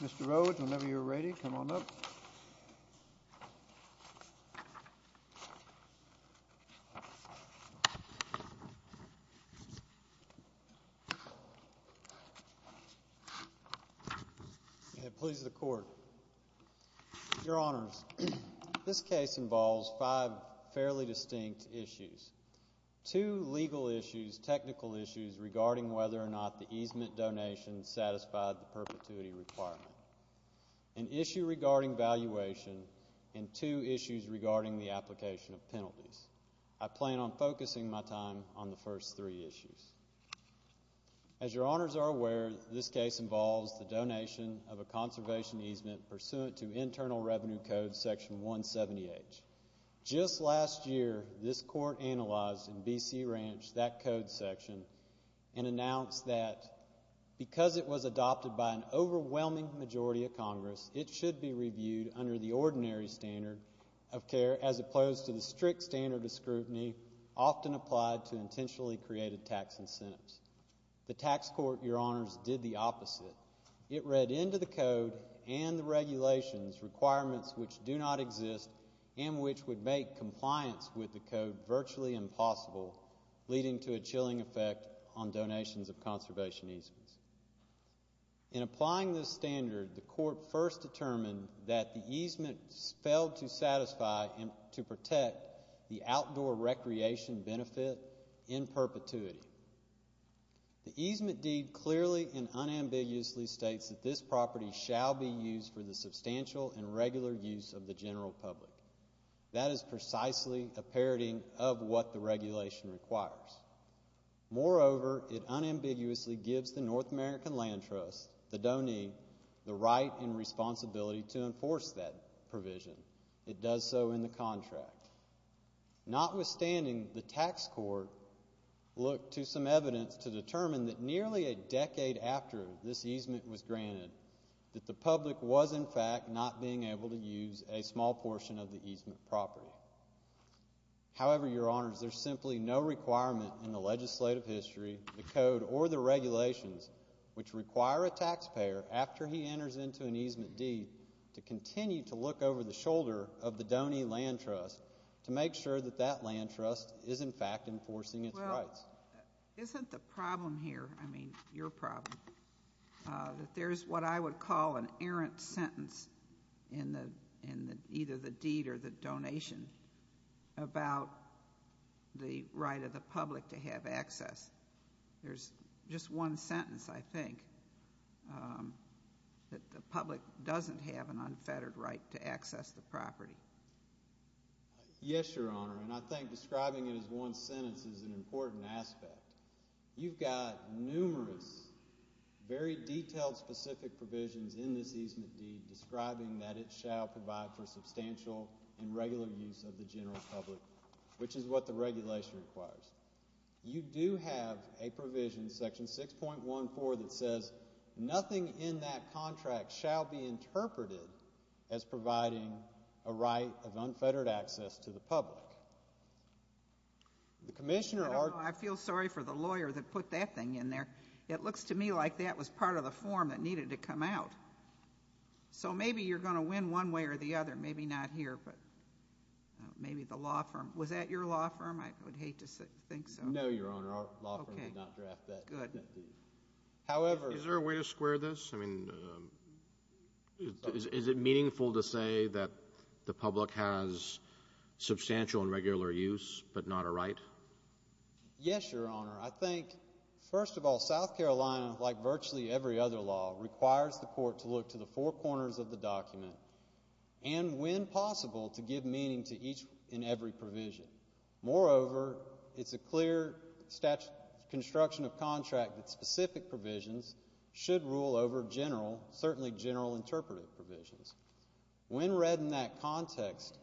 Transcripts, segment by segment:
Mr. Rhodes, whenever you're ready, come on up. Please, the Court. Your Honors, this case involves five fairly distinct issues. Two legal issues, technical issues regarding whether or not the easement donation satisfied the perpetuity requirement, an issue regarding valuation, and two issues regarding the application of penalties. I plan on focusing my time on the first three issues. As your Honors are aware, this case involves the donation of a conservation easement pursuant to Internal Revenue Code Section 170H. Just last year, this Court analyzed in B.C. Ranch that code section and announced that because it was adopted by an overwhelming majority of Congress, it should be reviewed under the ordinary standard of care as opposed to the strict standard of scrutiny often applied to intentionally created tax incentives. The tax court, your Honors, did the opposite. It read into the code and the regulations requirements which do not exist and which would make compliance with the code virtually impossible, leading to a chilling effect on donations of conservation easements. In applying this standard, the Court first determined that the easement failed to satisfy and to protect the outdoor recreation benefit in perpetuity. The easement deed clearly and unambiguously states that this property shall be used for the substantial and regular use of the general public. That is precisely a parody of what the regulation requires. Moreover, it unambiguously gives the North American Land Trust, the DONE, the right and responsibility to enforce that provision. It does so in the contract. Notwithstanding, the tax court looked to some evidence to determine that nearly a decade after this easement was granted that the public was, in fact, not being able to use a small portion of the easement property. However, your Honors, there is simply no requirement in the legislative history, the code, or the regulations which require a taxpayer, after he enters into an easement deed, to continue to look over the shoulder of the DONE Land Trust to make sure that that land trust is, in fact, enforcing its rights. Well, isn't the problem here, I mean, your problem, that there is what I would call an easement deed or the donation about the right of the public to have access? There's just one sentence, I think, that the public doesn't have an unfettered right to access the property. Yes, your Honor, and I think describing it as one sentence is an important aspect. You've got numerous, very detailed, specific provisions in this easement deed describing that it shall provide for substantial and regular use of the general public, which is what the regulation requires. You do have a provision, section 6.14, that says nothing in that contract shall be interpreted as providing a right of unfettered access to the public. The Commissioner argued... I don't know, I feel sorry for the lawyer that put that thing in there. It looks to me like that was part of the form that needed to come out. So, maybe you're going to win one way or the other, maybe not here, but maybe the law firm. Was that your law firm? I would hate to think so. No, your Honor, our law firm did not draft that deed. However... Is there a way to square this? I mean, is it meaningful to say that the public has substantial and regular use, but not a right? Yes, your Honor. I think, first of all, South Carolina, like virtually every other law, requires the court to look to the four corners of the document and, when possible, to give meaning to each and every provision. Moreover, it's a clear construction of contract that specific provisions should rule over general, certainly general interpretive provisions. When read in that context,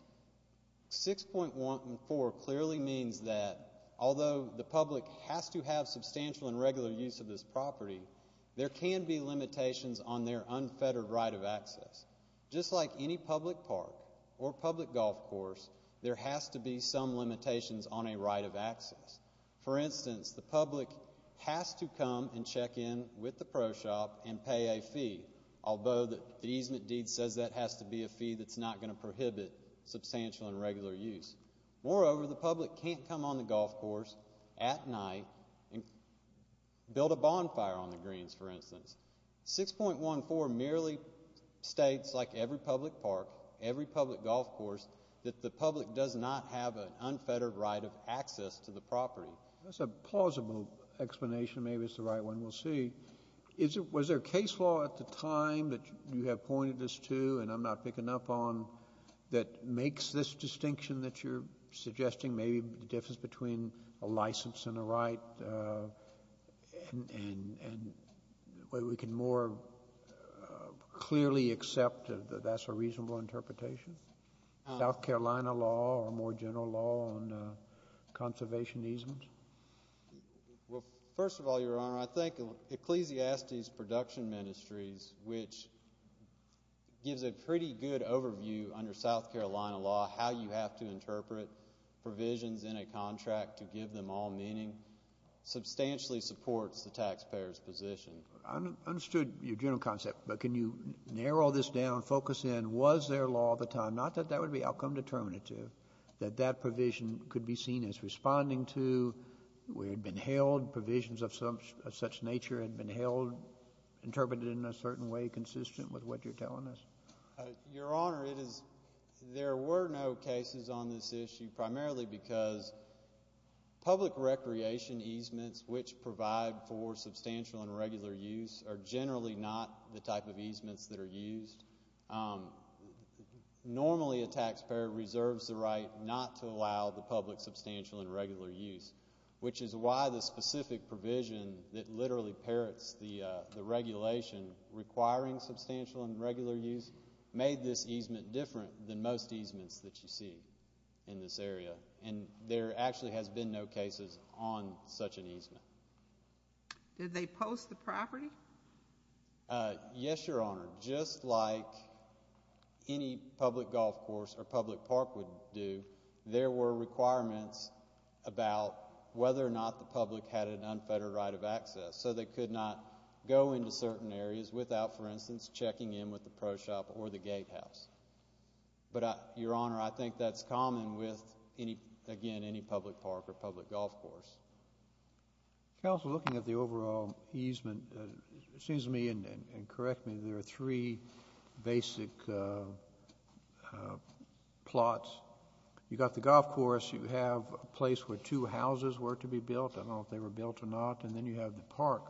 6.14 clearly means that, although the public has to have substantial and regular use of this property, there can be limitations on their unfettered right of access. Just like any public park or public golf course, there has to be some limitations on a right of access. For instance, the public has to come and check in with the pro shop and pay a fee, although the easement deed says that has to be a fee that's not going to prohibit substantial and regular use. Moreover, the public can't come on the golf course at night and build a bonfire on the greens, for instance. 6.14 merely states, like every public park, every public golf course, that the public does not have an unfettered right of access to the property. That's a plausible explanation. Maybe it's the right one. We'll see. Is it — was there a case law at the time that you have pointed us to and I'm not picking up on that makes this distinction that you're suggesting, maybe the difference between a license and a right, and where we can more clearly accept that that's a reasonable interpretation, South Carolina law or a more general law on conservation easements? Well, first of all, Your Honor, I think Ecclesiastes Production Ministries, which gives a pretty good overview under South Carolina law how you have to interpret provisions in a contract to give them all meaning, substantially supports the taxpayer's position. I understood your general concept, but can you narrow this down, focus in, was there law at the time, not that that would be outcome determinative, that that provision could be seen as responding to, where it had been held, provisions of such nature had been held, interpreted in a certain way consistent with what you're telling us? Your Honor, it is — there were no cases on this issue, primarily because public recreation easements, which provide for substantial and regular use, are generally not the type of easements that are used. Normally, a taxpayer reserves the right not to allow the public substantial and regular use, which is why the specific provision that literally parrots the regulation requiring substantial and regular use made this easement different than most easements that you see in this area, and there actually has been no cases on such an easement. Did they post the property? Yes, Your Honor. Just like any public golf course or public park would do, there were requirements about whether or not the public had an unfettered right of access, so they could not go into certain areas without, for instance, checking in with the pro shop or the gatehouse. But Your Honor, I think that's common with, again, any public park or public golf course. Counsel, looking at the overall easement, it seems to me, and correct me, there are three basic plots. You got the golf course. You have a place where two houses were to be built. I don't know if they were built or not, and then you have the park,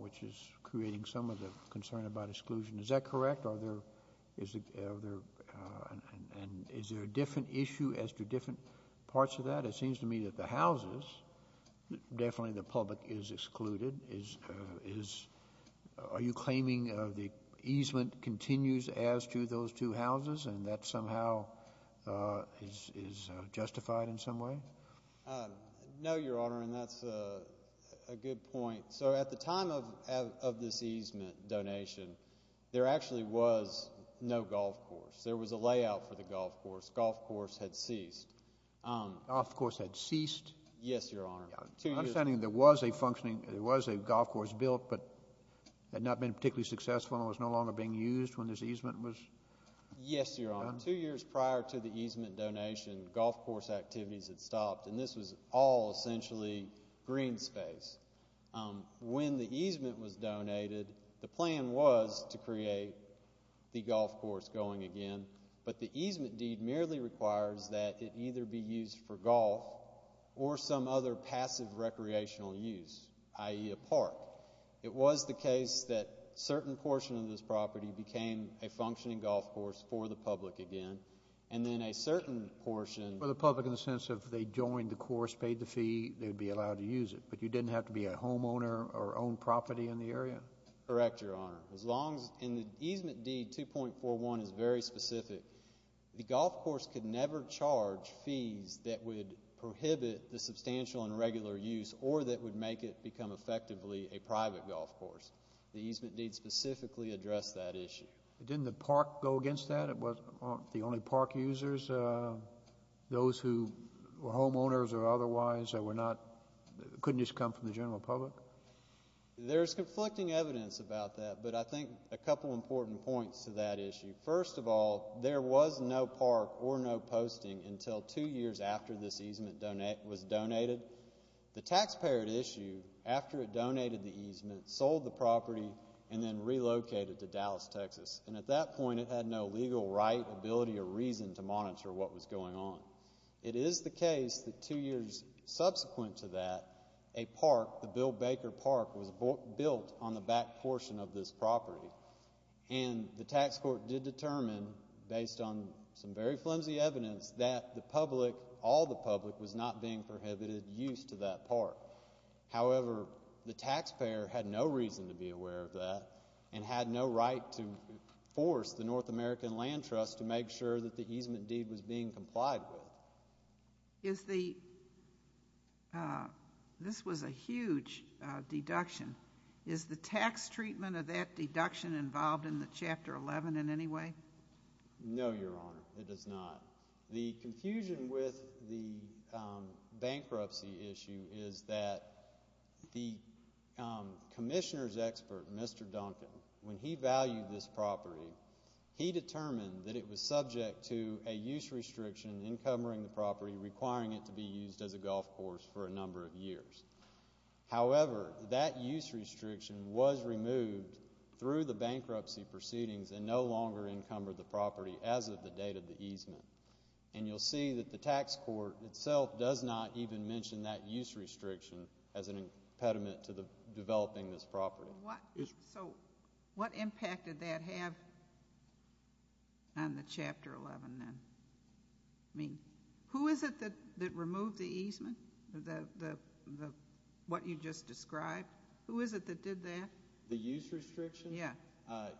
which is creating some of the concern about exclusion. Is that correct? Are there — is there a different issue as to different parts of that? It seems to me that the houses, definitely the public is excluded. Are you claiming the easement continues as to those two houses, and that somehow is justified in some way? No, Your Honor, and that's a good point. So at the time of this easement donation, there actually was no golf course. There was a layout for the golf course. Golf course had ceased. Golf course had ceased? Yes, Your Honor. I'm understanding there was a functioning — there was a golf course built, but had not been particularly successful and was no longer being used when this easement was done? Yes, Your Honor. Two years prior to the easement donation, golf course activities had stopped, and this was all essentially green space. When the easement was donated, the plan was to create the golf course going again, but the easement deed merely requires that it either be used for golf or some other passive recreational use, i.e., a park. It was the case that a certain portion of this property became a functioning golf course for the public again, and then a certain portion — For the public in the sense of they joined the course, paid the fee, they would be allowed to use it, but you didn't have to be a homeowner or own property in the area? Correct, Your Honor. As long as — and the easement deed 2.41 is very specific. The golf course could never charge fees that would prohibit the substantial and regular use or that would make it become effectively a private golf course. The easement deed specifically addressed that issue. Didn't the park go against that? It was — aren't the only park users those who were homeowners or otherwise that were not — couldn't just come from the general public? There's conflicting evidence about that, but I think a couple important points to that issue. First of all, there was no park or no posting until two years after this easement was donated. The taxpayer had issued after it donated the easement, sold the property, and then relocated to Dallas, Texas. And at that point, it had no legal right, ability, or reason to monitor what was going on. It is the case that two years subsequent to that, a park, the Bill Baker Park, was built on the back portion of this property. And the tax court did determine, based on some very flimsy evidence, that the public, all the public, was not being prohibited use to that park. However, the taxpayer had no reason to be aware of that and had no right to force the Is the — this was a huge deduction. Is the tax treatment of that deduction involved in the Chapter 11 in any way? No, Your Honor, it is not. The confusion with the bankruptcy issue is that the commissioner's expert, Mr. Duncan, when he valued this property, he determined that it was subject to a use restriction encumbering the property requiring it to be used as a golf course for a number of years. However, that use restriction was removed through the bankruptcy proceedings and no longer encumbered the property as of the date of the easement. And you'll see that the tax court itself does not even mention that use restriction as an impediment to developing this property. So what — so what impact did that have on the Chapter 11, then? I mean, who is it that removed the easement, the — what you just described? Who is it that did that? The use restriction? Yeah.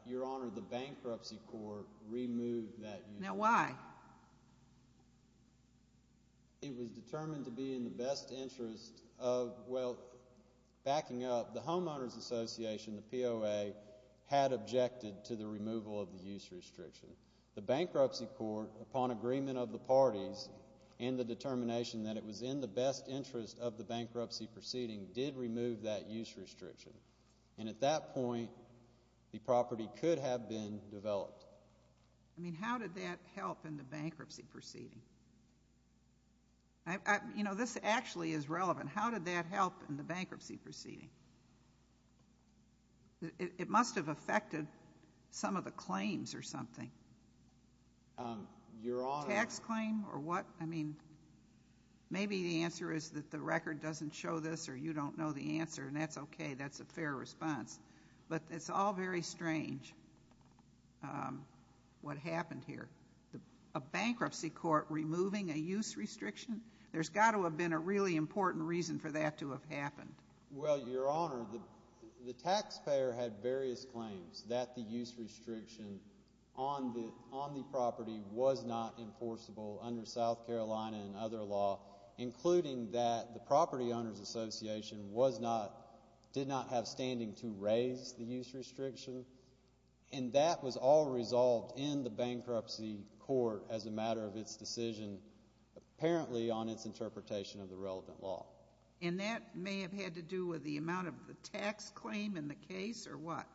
Your Honor, the bankruptcy court removed that use restriction. Now why? It was determined to be in the best interest of — well, backing up, the Homeowners' Association, the POA, had objected to the removal of the use restriction. The bankruptcy court, upon agreement of the parties and the determination that it was in the best interest of the bankruptcy proceeding, did remove that use restriction. And at that point, the property could have been developed. I mean, how did that help in the bankruptcy proceeding? You know, this actually is relevant. How did that help in the bankruptcy proceeding? It must have affected some of the claims or something. Your Honor — Tax claim or what? I mean, maybe the answer is that the record doesn't show this or you don't know the answer, and that's okay. That's a fair response. But it's all very strange, what happened here. A bankruptcy court removing a use restriction? There's got to have been a really important reason for that to have happened. Well, Your Honor, the taxpayer had various claims that the use restriction on the property was not enforceable under South Carolina and other law, including that the Property Owners' Association was not — did not have standing to raise the use restriction, and that was all resolved in the bankruptcy court as a matter of its decision. Apparently, on its interpretation of the relevant law. And that may have had to do with the amount of the tax claim in the case or what?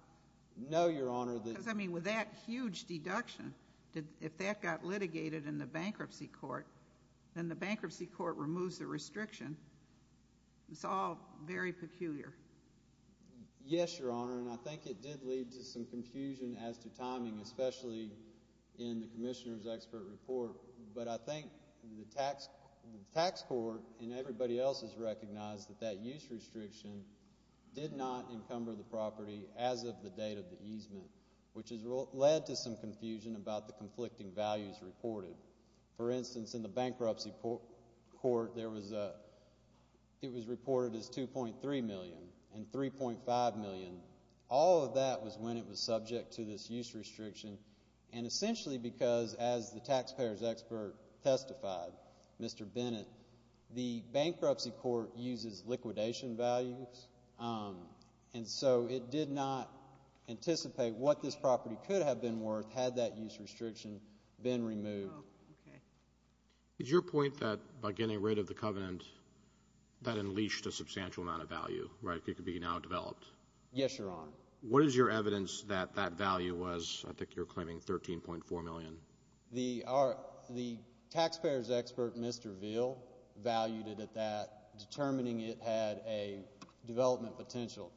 No, Your Honor. Because, I mean, with that huge deduction, if that got litigated in the bankruptcy court, then the bankruptcy court removes the restriction. It's all very peculiar. Yes, Your Honor, and I think it did lead to some confusion as to timing, especially in the Commissioner's Expert Report. But I think the tax court and everybody else has recognized that that use restriction did not encumber the property as of the date of the easement, which has led to some confusion about the conflicting values reported. For instance, in the bankruptcy court, it was reported as $2.3 million and $3.5 million. All of that was when it was subject to this use restriction. And essentially because, as the taxpayer's expert testified, Mr. Bennett, the bankruptcy court uses liquidation values. And so it did not anticipate what this property could have been worth had that use restriction been removed. Oh, okay. It's your point that by getting rid of the covenant, that unleashed a substantial amount of value, right? It could be now developed. Yes, Your Honor. What is your evidence that that value was, I think you're claiming $13.4 million? The taxpayer's expert, Mr. Ville, valued it at that, determining it had a development potential.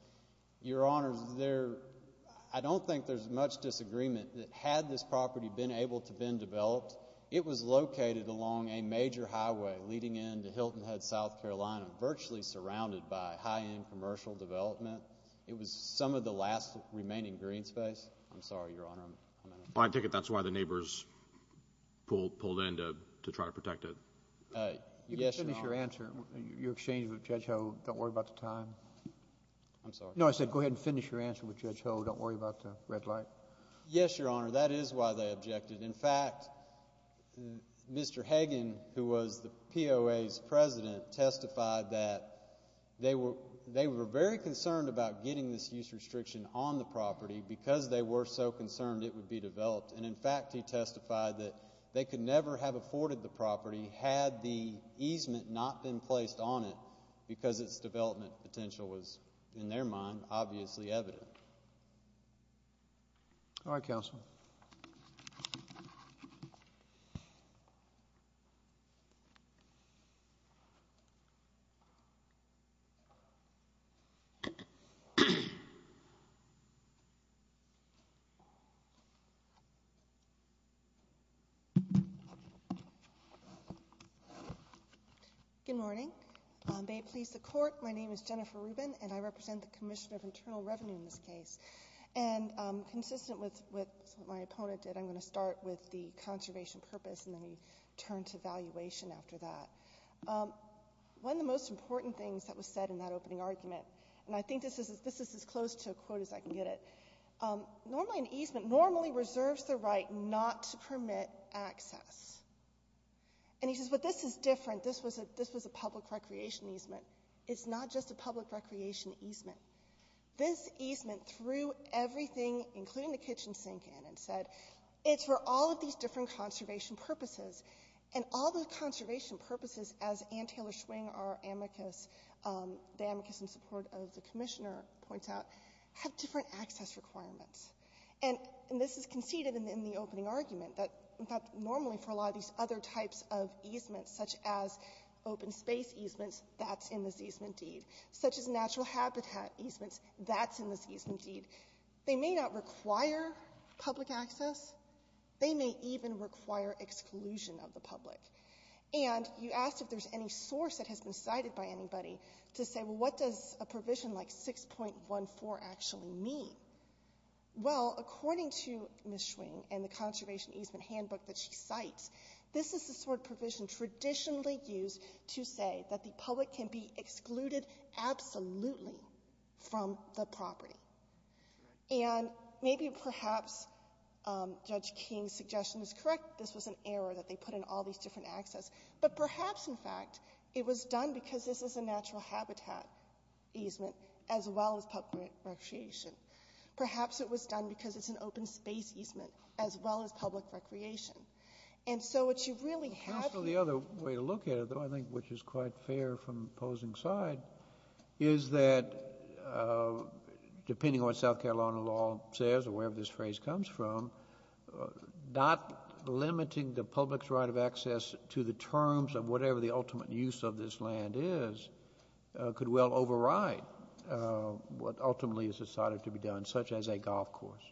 Your Honor, I don't think there's much disagreement that had this property been able to be developed, it was located along a major highway leading into Hilton Head, South Carolina, virtually surrounded by high-end commercial development. It was some of the last remaining green space. I'm sorry, Your Honor. I'm going to... I take it that's why the neighbors pulled in to try to protect it. Yes, Your Honor. You can finish your answer. You exchanged with Judge Ho. Don't worry about the time. I'm sorry. No, I said go ahead and finish your answer with Judge Ho. Don't worry about the red light. Yes, Your Honor. That is why they objected. In fact, Mr. Hagan, who was the POA's president, testified that they were very concerned about getting this use restriction on the property because they were so concerned it would be developed. In fact, he testified that they could never have afforded the property had the easement not been placed on it because its development potential was, in their mind, obviously evident. All right, counsel. Good morning. May it please the Court, my name is Jennifer Rubin and I represent the Commission of Internal Revenue in this case. Consistent with what my opponent did, I'm going to start with the conservation purpose and then we turn to valuation after that. One of the most important things that was said in that opening argument, and I think this is as close to a quote as I can get it, normally an easement normally reserves the right not to permit access. He says, but this is different. This was a public recreation easement. It's not just a public recreation easement. This easement threw everything, including the kitchen sink in and said, it's for all of these different conservation purposes. And all the conservation purposes, as Anne Taylor Schwing, our amicus, the amicus in support of the Commissioner, points out, have different access requirements. And this is conceded in the opening argument that, in fact, normally for a lot of these other types of easements, such as open space easements, that's in this easement deed. Such as natural habitat easements, that's in this easement deed. They may not require public access. They may even require exclusion of the public. And you asked if there's any source that has been cited by anybody to say, well, what does a provision like 6.14 actually mean? Well, according to Ms. Schwing and the conservation easement handbook that she cites, this is the sort of provision traditionally used to say that the public can be excluded absolutely from the property. And maybe perhaps Judge King's suggestion is correct. This was an error that they put in all these different access. But perhaps, in fact, it was done because this is a natural habitat easement, as well as public recreation. Perhaps it was done because it's an open space easement, as well as public recreation. And so what you really have here The other way to look at it, though, I think which is quite fair from opposing side, is that depending on what South Carolina law says, or wherever this phrase comes from, not limiting the public's right of access to the terms of whatever the ultimate use of this land is, could well override what ultimately is decided to be done, such as a golf course.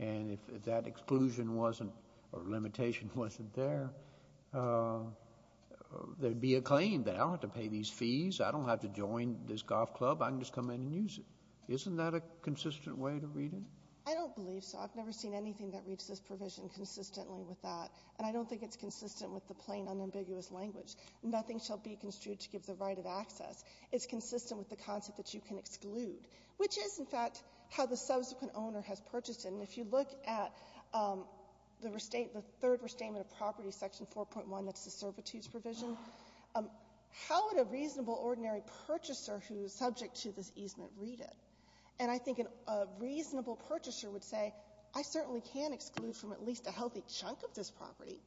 And if that exclusion wasn't or limitation wasn't there, there would be a claim that I don't have to pay these fees, I don't have to join this golf club, I can just come in and use it. Isn't that a consistent way to read it? I don't believe so. I've never seen anything that reads this provision consistently with that. And I don't think it's consistent with the plain, unambiguous language. Nothing shall be construed to give the right of access. It's consistent with the concept that you can exclude, which is, in fact, how the subsequent owner has purchased it. And if you look at the third restatement of property, Section 4.1, that's the servitude provision, how would a reasonable, ordinary purchaser who is subject to this easement read it? And I think a reasonable purchaser would say, I certainly can exclude from at least a healthy chunk of this property.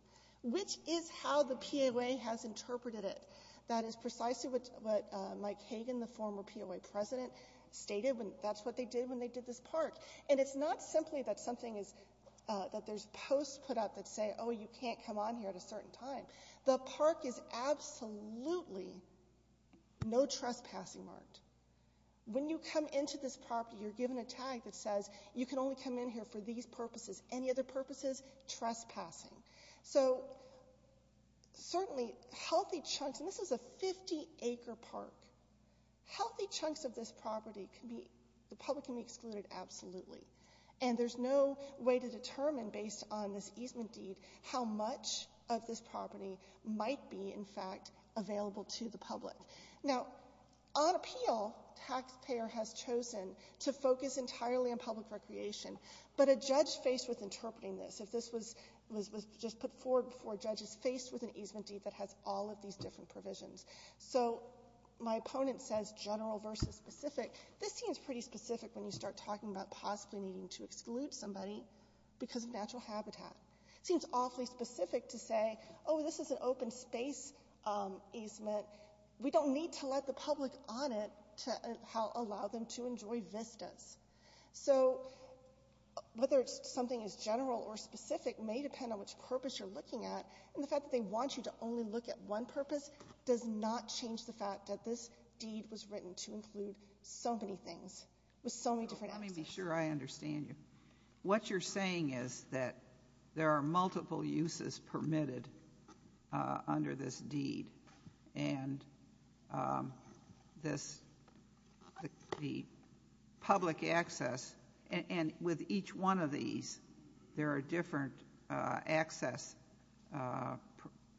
Which is how the POA has interpreted it. That is precisely what Mike Hagan, the former POA president, stated, and that's what they did when they did this park. And it's not simply that something is, that there's posts put up that say, oh, you can't come on here at a certain time. The park is absolutely no trespassing marked. When you come into this property, you're given a tag that says, you can only come in here for these purposes. Any other purposes, trespassing. So, certainly, healthy chunks, and this is a 50-acre park. Healthy chunks of this property can be, the public can be excluded absolutely. And there's no way to determine, based on this easement deed, how much of this property might be, in fact, available to the public. Now, on appeal, taxpayer has chosen to focus entirely on public recreation. But a judge faced with interpreting this, if this was just put forward before judges, faced with an easement deed that has all of these different provisions. So, my opponent says general versus specific. This seems pretty specific when you start talking about possibly needing to exclude somebody because of natural habitat. It seems awfully specific to say, oh, this is an open space easement. We don't need to let the public on it to allow them to enjoy vistas. So, whether something is general or specific may depend on which purpose you're looking at. And the fact that they want you to only look at one purpose does not change the fact that this deed was written to include so many things with so many different access. Let me be sure I understand you. What you're saying is that there are multiple uses permitted under this deed. And this, the public access, and with each one of these, there are different access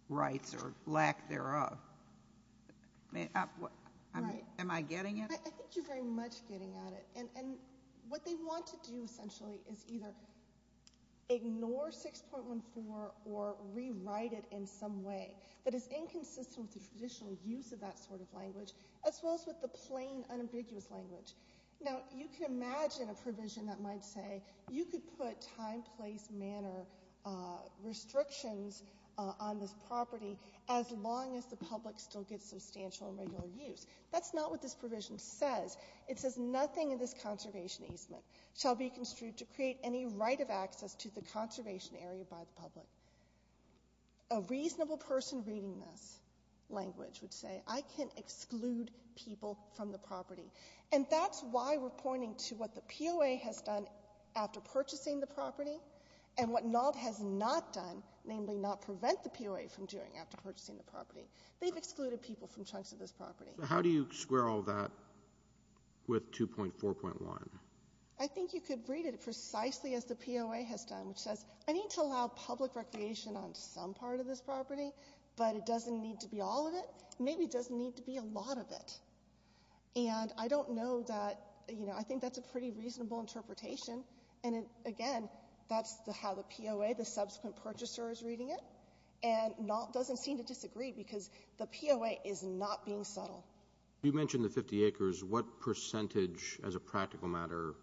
rights or lack thereof. Am I getting it? I think you're very much getting at it. And what they want to do, essentially, is either ignore 6.14 or rewrite it in some way that is inconsistent with the traditional use of that sort of language, as well as with the plain, unambiguous language. Now, you can imagine a provision that might say you could put time, place, manner restrictions on this property as long as the public still gets substantial and regular use. That's not what this provision says. It says nothing in this conservation easement shall be construed to create any right of access to the conservation area by the public. A reasonable person reading this language would say, I can exclude people from the property. And that's why we're pointing to what the POA has done after purchasing the property and what NAHD has not done, namely not prevent the POA from doing after purchasing the property. They've excluded people from chunks of this property. So how do you square all that with 2.4.1? I think you could read it precisely as the POA has done, which says, I need to allow public recreation on some part of this property, but it doesn't need to be all of it. Maybe it doesn't need to be a lot of it. And I don't know that, you know, I think that's a pretty reasonable interpretation. And, again, that's how the POA, the subsequent purchaser, is reading it, and doesn't seem to disagree because the POA is not being subtle. You mentioned the 50 acres. What percentage, as a practical matter,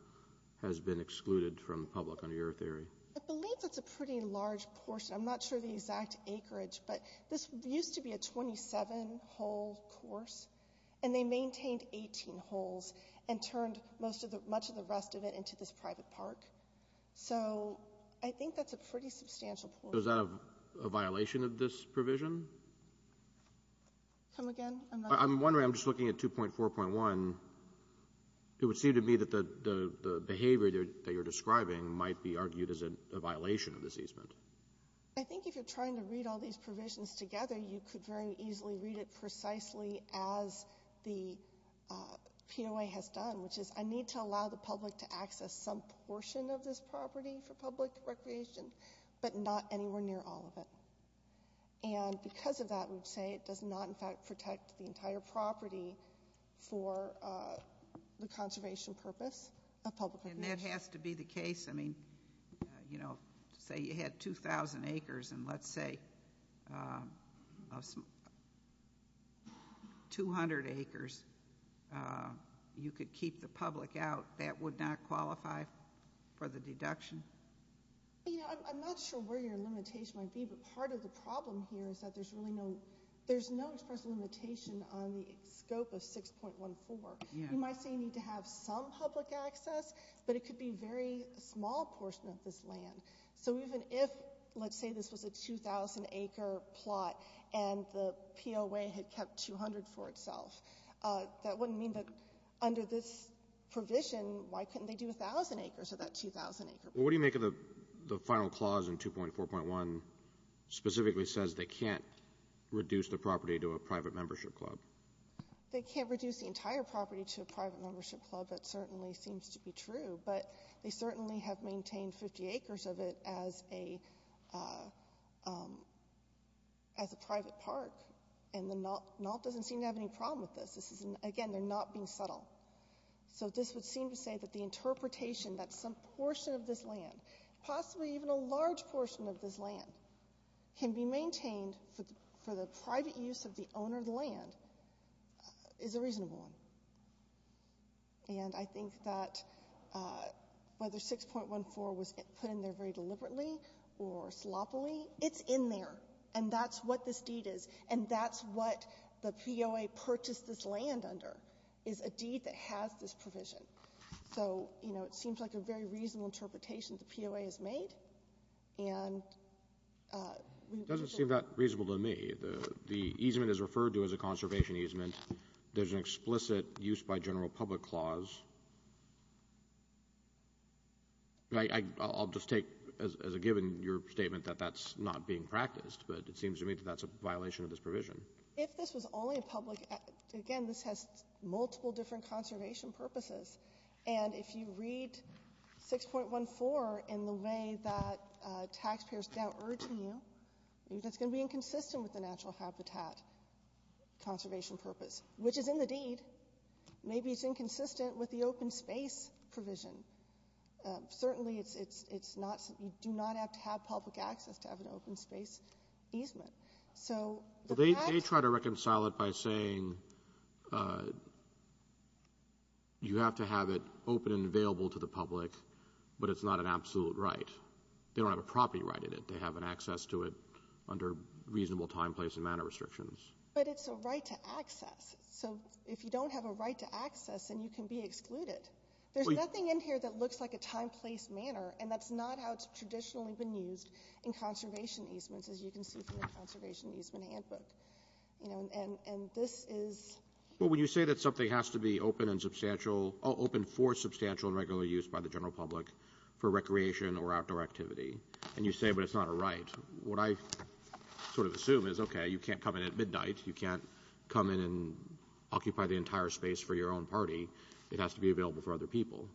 has been excluded from the public under your theory? I believe that's a pretty large portion. I'm not sure of the exact acreage, but this used to be a 27-hole course, and they maintained 18 holes and turned much of the rest of it into this private park. So I think that's a pretty substantial portion. So is that a violation of this provision? Come again? I'm wondering, I'm just looking at 2.4.1. It would seem to me that the behavior that you're describing might be argued as a violation of this easement. I think if you're trying to read all these provisions together, you could very easily read it precisely as the POA has done, which is I need to allow the public to access some portion of this property for public recreation, but not anywhere near all of it. And because of that, we would say it does not, in fact, protect the entire property for the conservation purpose of public recreation. And that has to be the case? I mean, you know, say you had 2,000 acres, and let's say 200 acres, you could keep the public out. That would not qualify for the deduction? You know, I'm not sure where your limitation might be, but part of the problem here is that there's no express limitation on the scope of 6.14. You might say you need to have some public access, but it could be a very small portion of this land. So even if, let's say this was a 2,000-acre plot, and the POA had kept 200 for itself, that wouldn't mean that under this provision, why couldn't they do 1,000 acres of that 2,000-acre plot? Well, what do you make of the final clause in 2.4.1 specifically says they can't reduce the property to a private membership club? They can't reduce the entire property to a private membership club. That certainly seems to be true. But they certainly have maintained 50 acres of it as a private park, and NAWP doesn't seem to have any problem with this. Again, they're not being subtle. So this would seem to say that the interpretation that some portion of this land, possibly even a large portion of this land, can be maintained for the private use of the owner of the land is a reasonable one. And I think that whether 6.14 was put in there very deliberately or sloppily, it's in there, and that's what this deed is, and that's what the POA purchased this land under, is a deed that has this provision. So, you know, it seems like a very reasonable interpretation the POA has made. It doesn't seem that reasonable to me. The easement is referred to as a conservation easement. There's an explicit use by general public clause. I'll just take as a given your statement that that's not being practiced, but it seems to me that that's a violation of this provision. If this was only a public — again, this has multiple different conservation purposes. And if you read 6.14 in the way that taxpayers are now urging you, that's going to be inconsistent with the natural habitat conservation purpose, which is in the deed. Maybe it's inconsistent with the open space provision. Certainly it's not — you do not have to have public access to have an open space easement. So the fact — They try to reconcile it by saying you have to have it open and available to the public, but it's not an absolute right. They don't have a property right in it. They have an access to it under reasonable time, place, and manner restrictions. But it's a right to access. So if you don't have a right to access, then you can be excluded. There's nothing in here that looks like a time, place, manner, and that's not how it's traditionally been used in conservation easements, as you can see from the conservation easement handbook. And this is — Well, when you say that something has to be open and substantial — open for substantial and regular use by the general public for recreation or outdoor activity, and you say, but it's not a right, what I sort of assume is, okay, you can't come in at midnight. You can't come in and occupy the entire space for your own party. It has to be available for other people.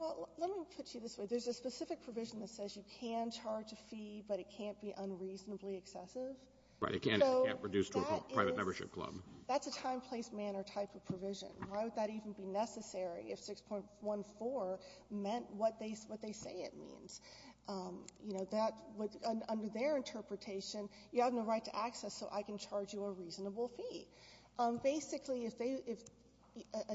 Well, let me put you this way. There's a specific provision that says you can charge a fee, but it can't be unreasonably excessive. Right. It can't be reduced to a private membership club. That's a time, place, manner type of provision. Why would that even be necessary if 6.14 meant what they say it means? Under their interpretation, you have no right to access, so I can charge you a reasonable fee. Basically, a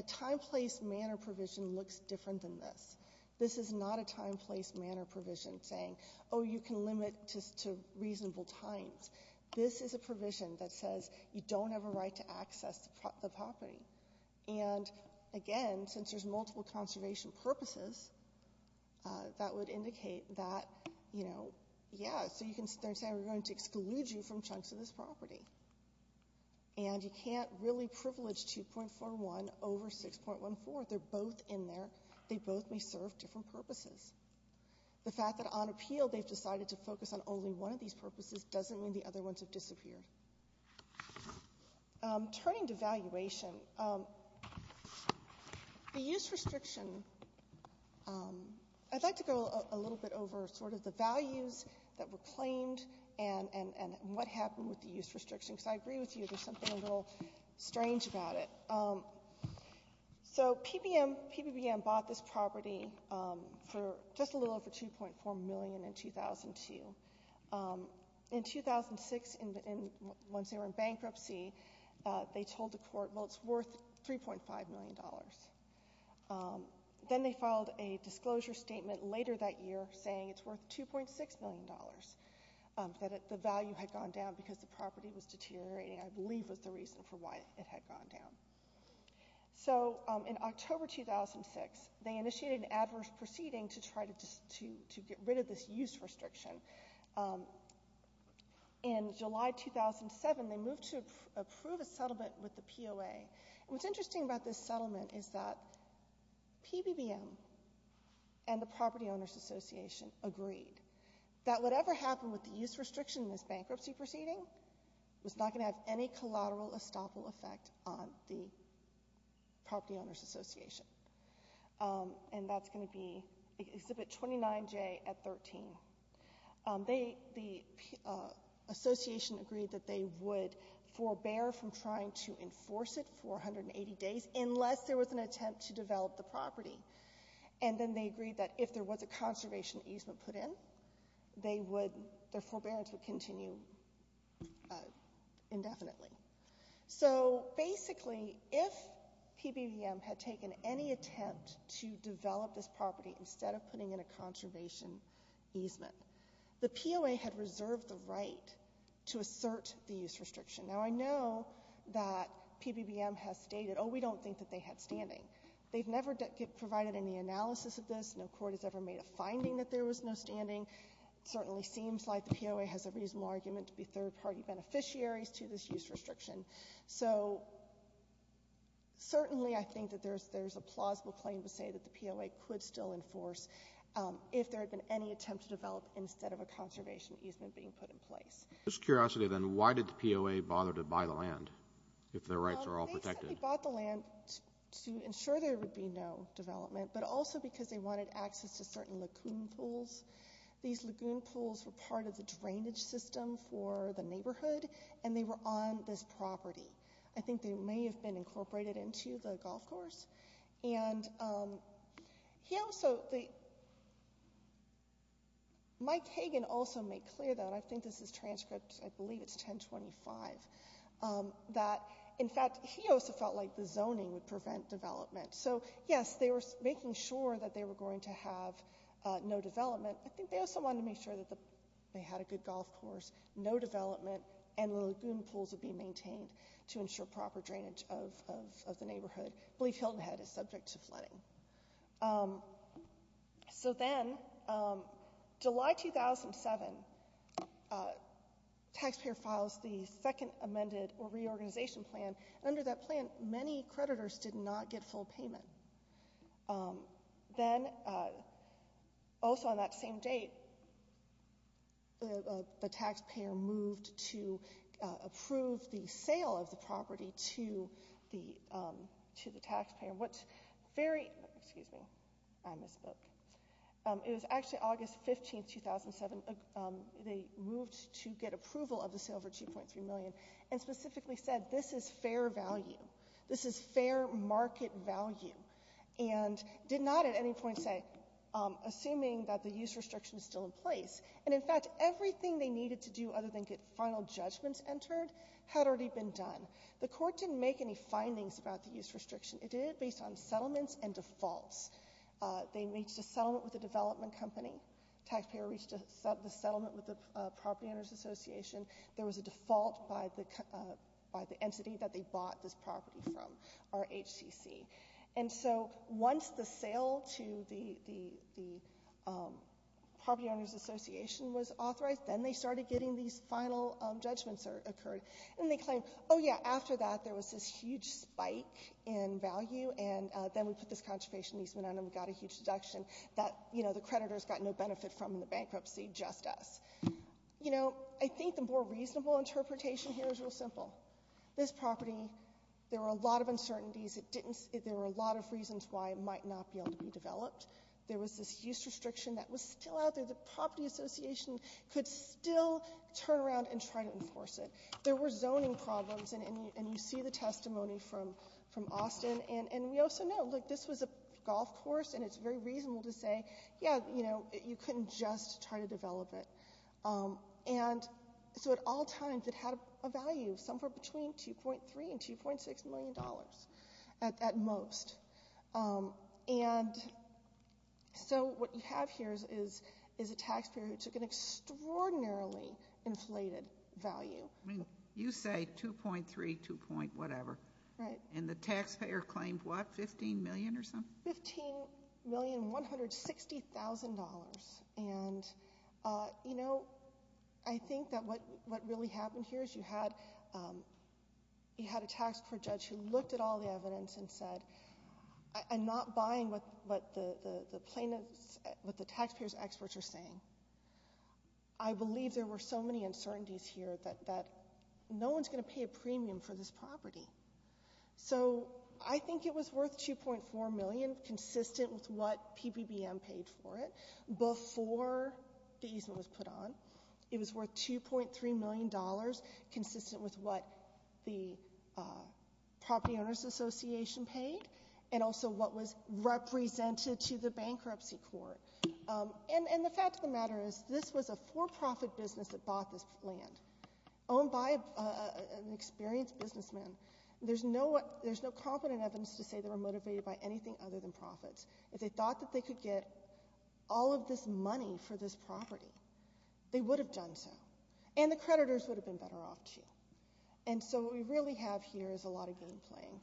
time, place, manner provision looks different than this. This is not a time, place, manner provision saying, oh, you can limit to reasonable times. This is a provision that says you don't have a right to access the property. And, again, since there's multiple conservation purposes, that would indicate that, you know, yeah, so you can start saying we're going to exclude you from chunks of this property. And you can't really privilege 2.41 over 6.14. They're both in there. They both may serve different purposes. The fact that on appeal they've decided to focus on only one of these purposes doesn't mean the other ones have disappeared. Turning to valuation, the use restriction, I'd like to go a little bit over sort of the values that were claimed and what happened with the use restriction, because I agree with you. There's something a little strange about it. So PBBM bought this property for just a little over $2.4 million in 2002. In 2006, once they were in bankruptcy, they told the court, well, it's worth $3.5 million. Then they filed a disclosure statement later that year saying it's worth $2.6 million, that the value had gone down because the property was deteriorating, I believe, was the reason for why it had gone down. So in October 2006, they initiated an adverse proceeding to try to get rid of this use restriction. In July 2007, they moved to approve a settlement with the POA. What's interesting about this settlement is that PBBM and the Property Owners Association agreed that whatever happened with the use restriction in this bankruptcy proceeding was not going to have any collateral estoppel effect on the Property Owners Association. And that's going to be Exhibit 29J at 13. The association agreed that they would forbear from trying to enforce it for 180 days unless there was an attempt to develop the property. And then they agreed that if there was a conservation easement put in, their forbearance would continue indefinitely. So basically, if PBBM had taken any attempt to develop this property instead of putting in a conservation easement, the POA had reserved the right to assert the use restriction. Now, I know that PBBM has stated, oh, we don't think that they had standing. They've never provided any analysis of this. No court has ever made a finding that there was no standing. It certainly seems like the POA has a reasonable argument to be third-party beneficiaries to this use restriction. So certainly I think that there's a plausible claim to say that the POA could still enforce if there had been any attempt to develop instead of a conservation easement being put in place. If I'm just curious, then why did the POA bother to buy the land if their rights are all protected? They simply bought the land to ensure there would be no development, but also because they wanted access to certain lagoon pools. These lagoon pools were part of the drainage system for the neighborhood, and they were on this property. I think they may have been incorporated into the golf course. And he also, Mike Hagan also made clear that, I think this is transcript, I believe it's 1025, that, in fact, he also felt like the zoning would prevent development. So, yes, they were making sure that they were going to have no development. I think they also wanted to make sure that they had a good golf course, no development, and the lagoon pools would be maintained to ensure proper drainage of the neighborhood. So then, July 2007, taxpayer files the second amended or reorganization plan. Under that plan, many creditors did not get full payment. Then, also on that same date, the taxpayer moved to approve the sale of the property to the taxpayer, which very, excuse me, I misspoke. It was actually August 15, 2007, they moved to get approval of the sale for $2.3 million and specifically said this is fair value, this is fair market value, and did not at any point say, assuming that the use restriction is still in place. And, in fact, everything they needed to do other than get final judgments entered had already been done. The court didn't make any findings about the use restriction. It did it based on settlements and defaults. They reached a settlement with a development company. Taxpayer reached a settlement with the Property Owners Association. There was a default by the entity that they bought this property from, RHCC. And so once the sale to the Property Owners Association was authorized, then they started getting these final judgments occurred. And they claimed, oh, yeah, after that there was this huge spike in value, and then we put this conservation easement on and we got a huge deduction that, you know, the creditors got no benefit from in the bankruptcy, just us. You know, I think the more reasonable interpretation here is real simple. This property, there were a lot of uncertainties. There were a lot of reasons why it might not be able to be developed. There was this use restriction that was still out there. The Property Association could still turn around and try to enforce it. There were zoning problems, and you see the testimony from Austin. And we also know, look, this was a golf course, and it's very reasonable to say, yeah, you know, you couldn't just try to develop it. And so at all times it had a value somewhere between $2.3 and $2.6 million at most. And so what you have here is a taxpayer who took an extraordinarily inflated value. I mean, you say $2.3, $2. whatever. Right. And the taxpayer claimed what, $15 million or something? $15 million, $160,000. And, you know, I think that what really happened here is you had a tax court judge who looked at all the evidence and said, I'm not buying what the taxpayers' experts are saying. I believe there were so many uncertainties here that no one's going to pay a premium for this property. So I think it was worth $2.4 million, consistent with what PBBM paid for it before the easement was put on. It was worth $2.3 million, consistent with what the Property Owners Association paid and also what was represented to the bankruptcy court. And the fact of the matter is this was a for-profit business that bought this land, owned by an experienced businessman. There's no competent evidence to say they were motivated by anything other than profits. If they thought that they could get all of this money for this property, they would have done so. And the creditors would have been better off, too. And so what we really have here is a lot of game playing.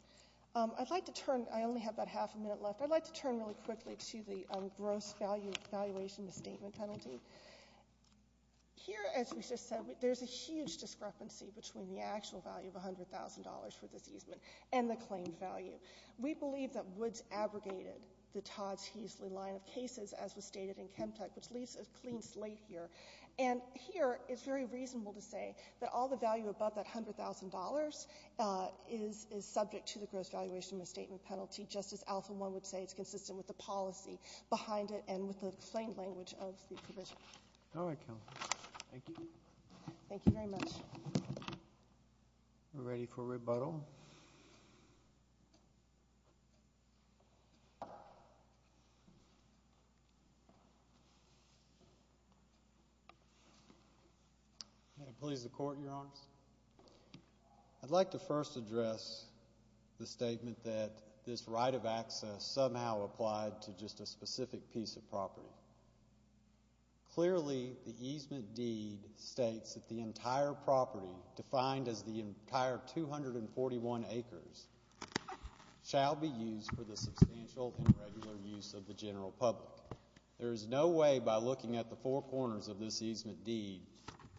I'd like to turn, I only have about half a minute left, I'd like to turn really quickly to the gross valuation misstatement penalty. Here, as we just said, there's a huge discrepancy between the actual value of $100,000 for this easement and the claimed value. We believe that Woods abrogated the Todd's-Heasley line of cases, as was stated in Chemtech, which leaves a clean slate here. And here it's very reasonable to say that all the value above that $100,000 is subject to the gross valuation misstatement penalty, just as Alpha One would say it's consistent with the policy behind it and with the claimed language of the provision. All right, Kelly. Thank you. Thank you very much. We're ready for rebuttal. May it please the Court, Your Honors. I'd like to first address the statement that this right of access somehow applied to just a specific piece of property. Clearly, the easement deed states that the entire property, defined as the entire 241 acres, shall be used for the substantial and regular use of the general public. There is no way by looking at the four corners of this easement deed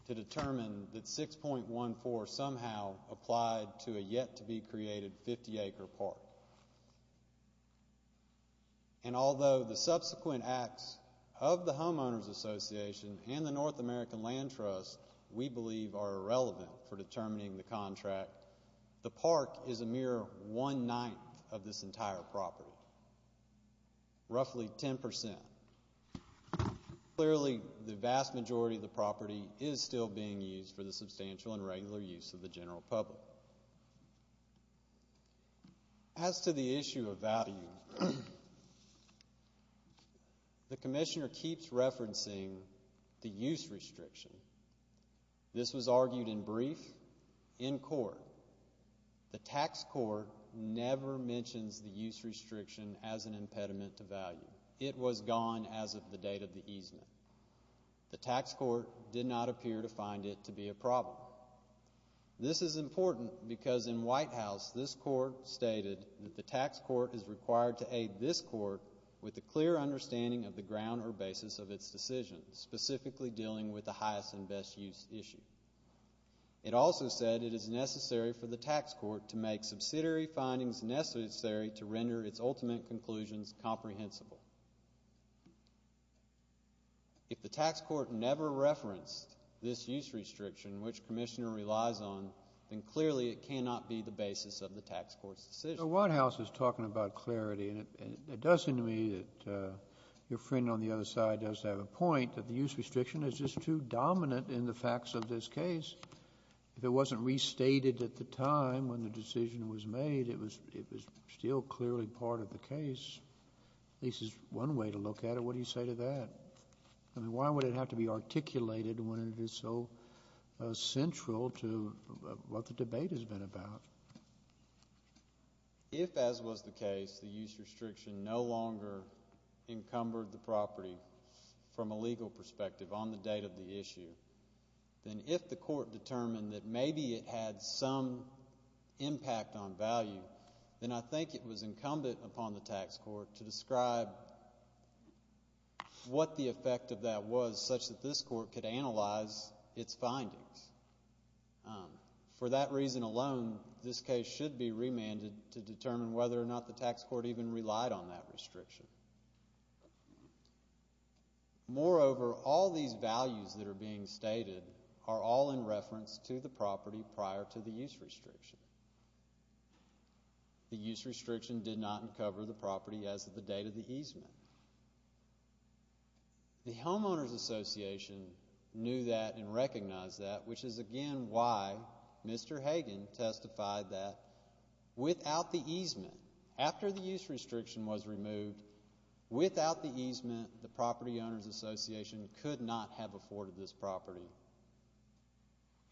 to determine that 6.14 somehow applied to a yet-to-be-created 50-acre park. And although the subsequent acts of the Homeowners Association and the North American Land Trust, we believe are irrelevant for determining the contract, the park is a mere one-ninth of this entire property, roughly 10%. Clearly, the vast majority of the property is still being used for the substantial and regular use of the general public. As to the issue of value, the Commissioner keeps referencing the use restriction. This was argued in brief in court. The tax court never mentions the use restriction as an impediment to value. It was gone as of the date of the easement. The tax court did not appear to find it to be a problem. This is important because in White House, this court stated that the tax court is required to aid this court with a clear understanding of the ground or basis of its decision, specifically dealing with the highest and best use issue. It also said it is necessary for the tax court to make subsidiary findings necessary to render its ultimate conclusions comprehensible. If the tax court never referenced this use restriction, which Commissioner relies on, then clearly it cannot be the basis of the tax court's decision. The White House is talking about clarity, and it does seem to me that your friend on the other side does have a point that the use restriction is just too dominant in the facts of this case. If it wasn't restated at the time when the decision was made, it was still clearly part of the case. This is one way to look at it. What do you say to that? Why would it have to be articulated when it is so central to what the debate has been about? If, as was the case, the use restriction no longer encumbered the property from a legal perspective on the date of the issue, then if the court determined that maybe it had some impact on value, then I think it was incumbent upon the tax court to describe what the effect of that was, such that this court could analyze its findings. For that reason alone, this case should be remanded to determine whether or not the tax court even relied on that restriction. Moreover, all these values that are being stated are all in reference to the property prior to the use restriction. The use restriction did not encumber the property as of the date of the easement. The Homeowners Association knew that and recognized that, which is, again, why Mr. Hagan testified that without the easement, after the use restriction was removed, without the easement, the Property Owners Association could not have afforded this property.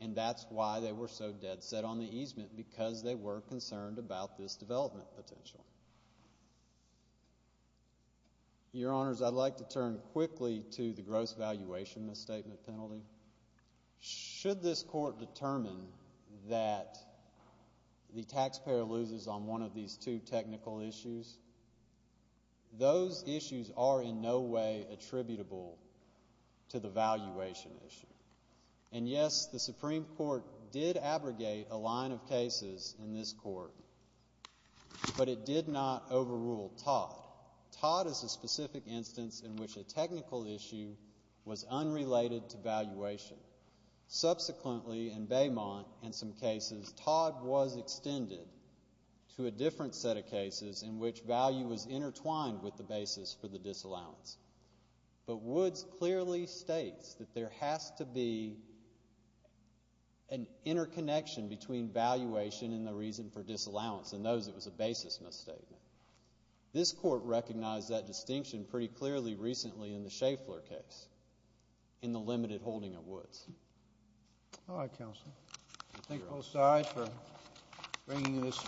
And that's why they were so dead set on the easement, because they were concerned about this development potential. Your Honors, I'd like to turn quickly to the gross valuation misstatement penalty. Should this court determine that the taxpayer loses on one of these two technical issues, those issues are in no way attributable to the valuation issue. And, yes, the Supreme Court did abrogate a line of cases in this court, but it did not overrule Todd. Todd is a specific instance in which a technical issue was unrelated to valuation. Subsequently, in Baymont, in some cases, Todd was extended to a different set of cases in which value was intertwined with the basis for the disallowance. But Woods clearly states that there has to be an interconnection between valuation and the reason for disallowance. In those, it was a basis misstatement. This court recognized that distinction pretty clearly recently in the Schaeffler case, in the limited holding of Woods. All right, Counsel. Thank you both sides for bringing this.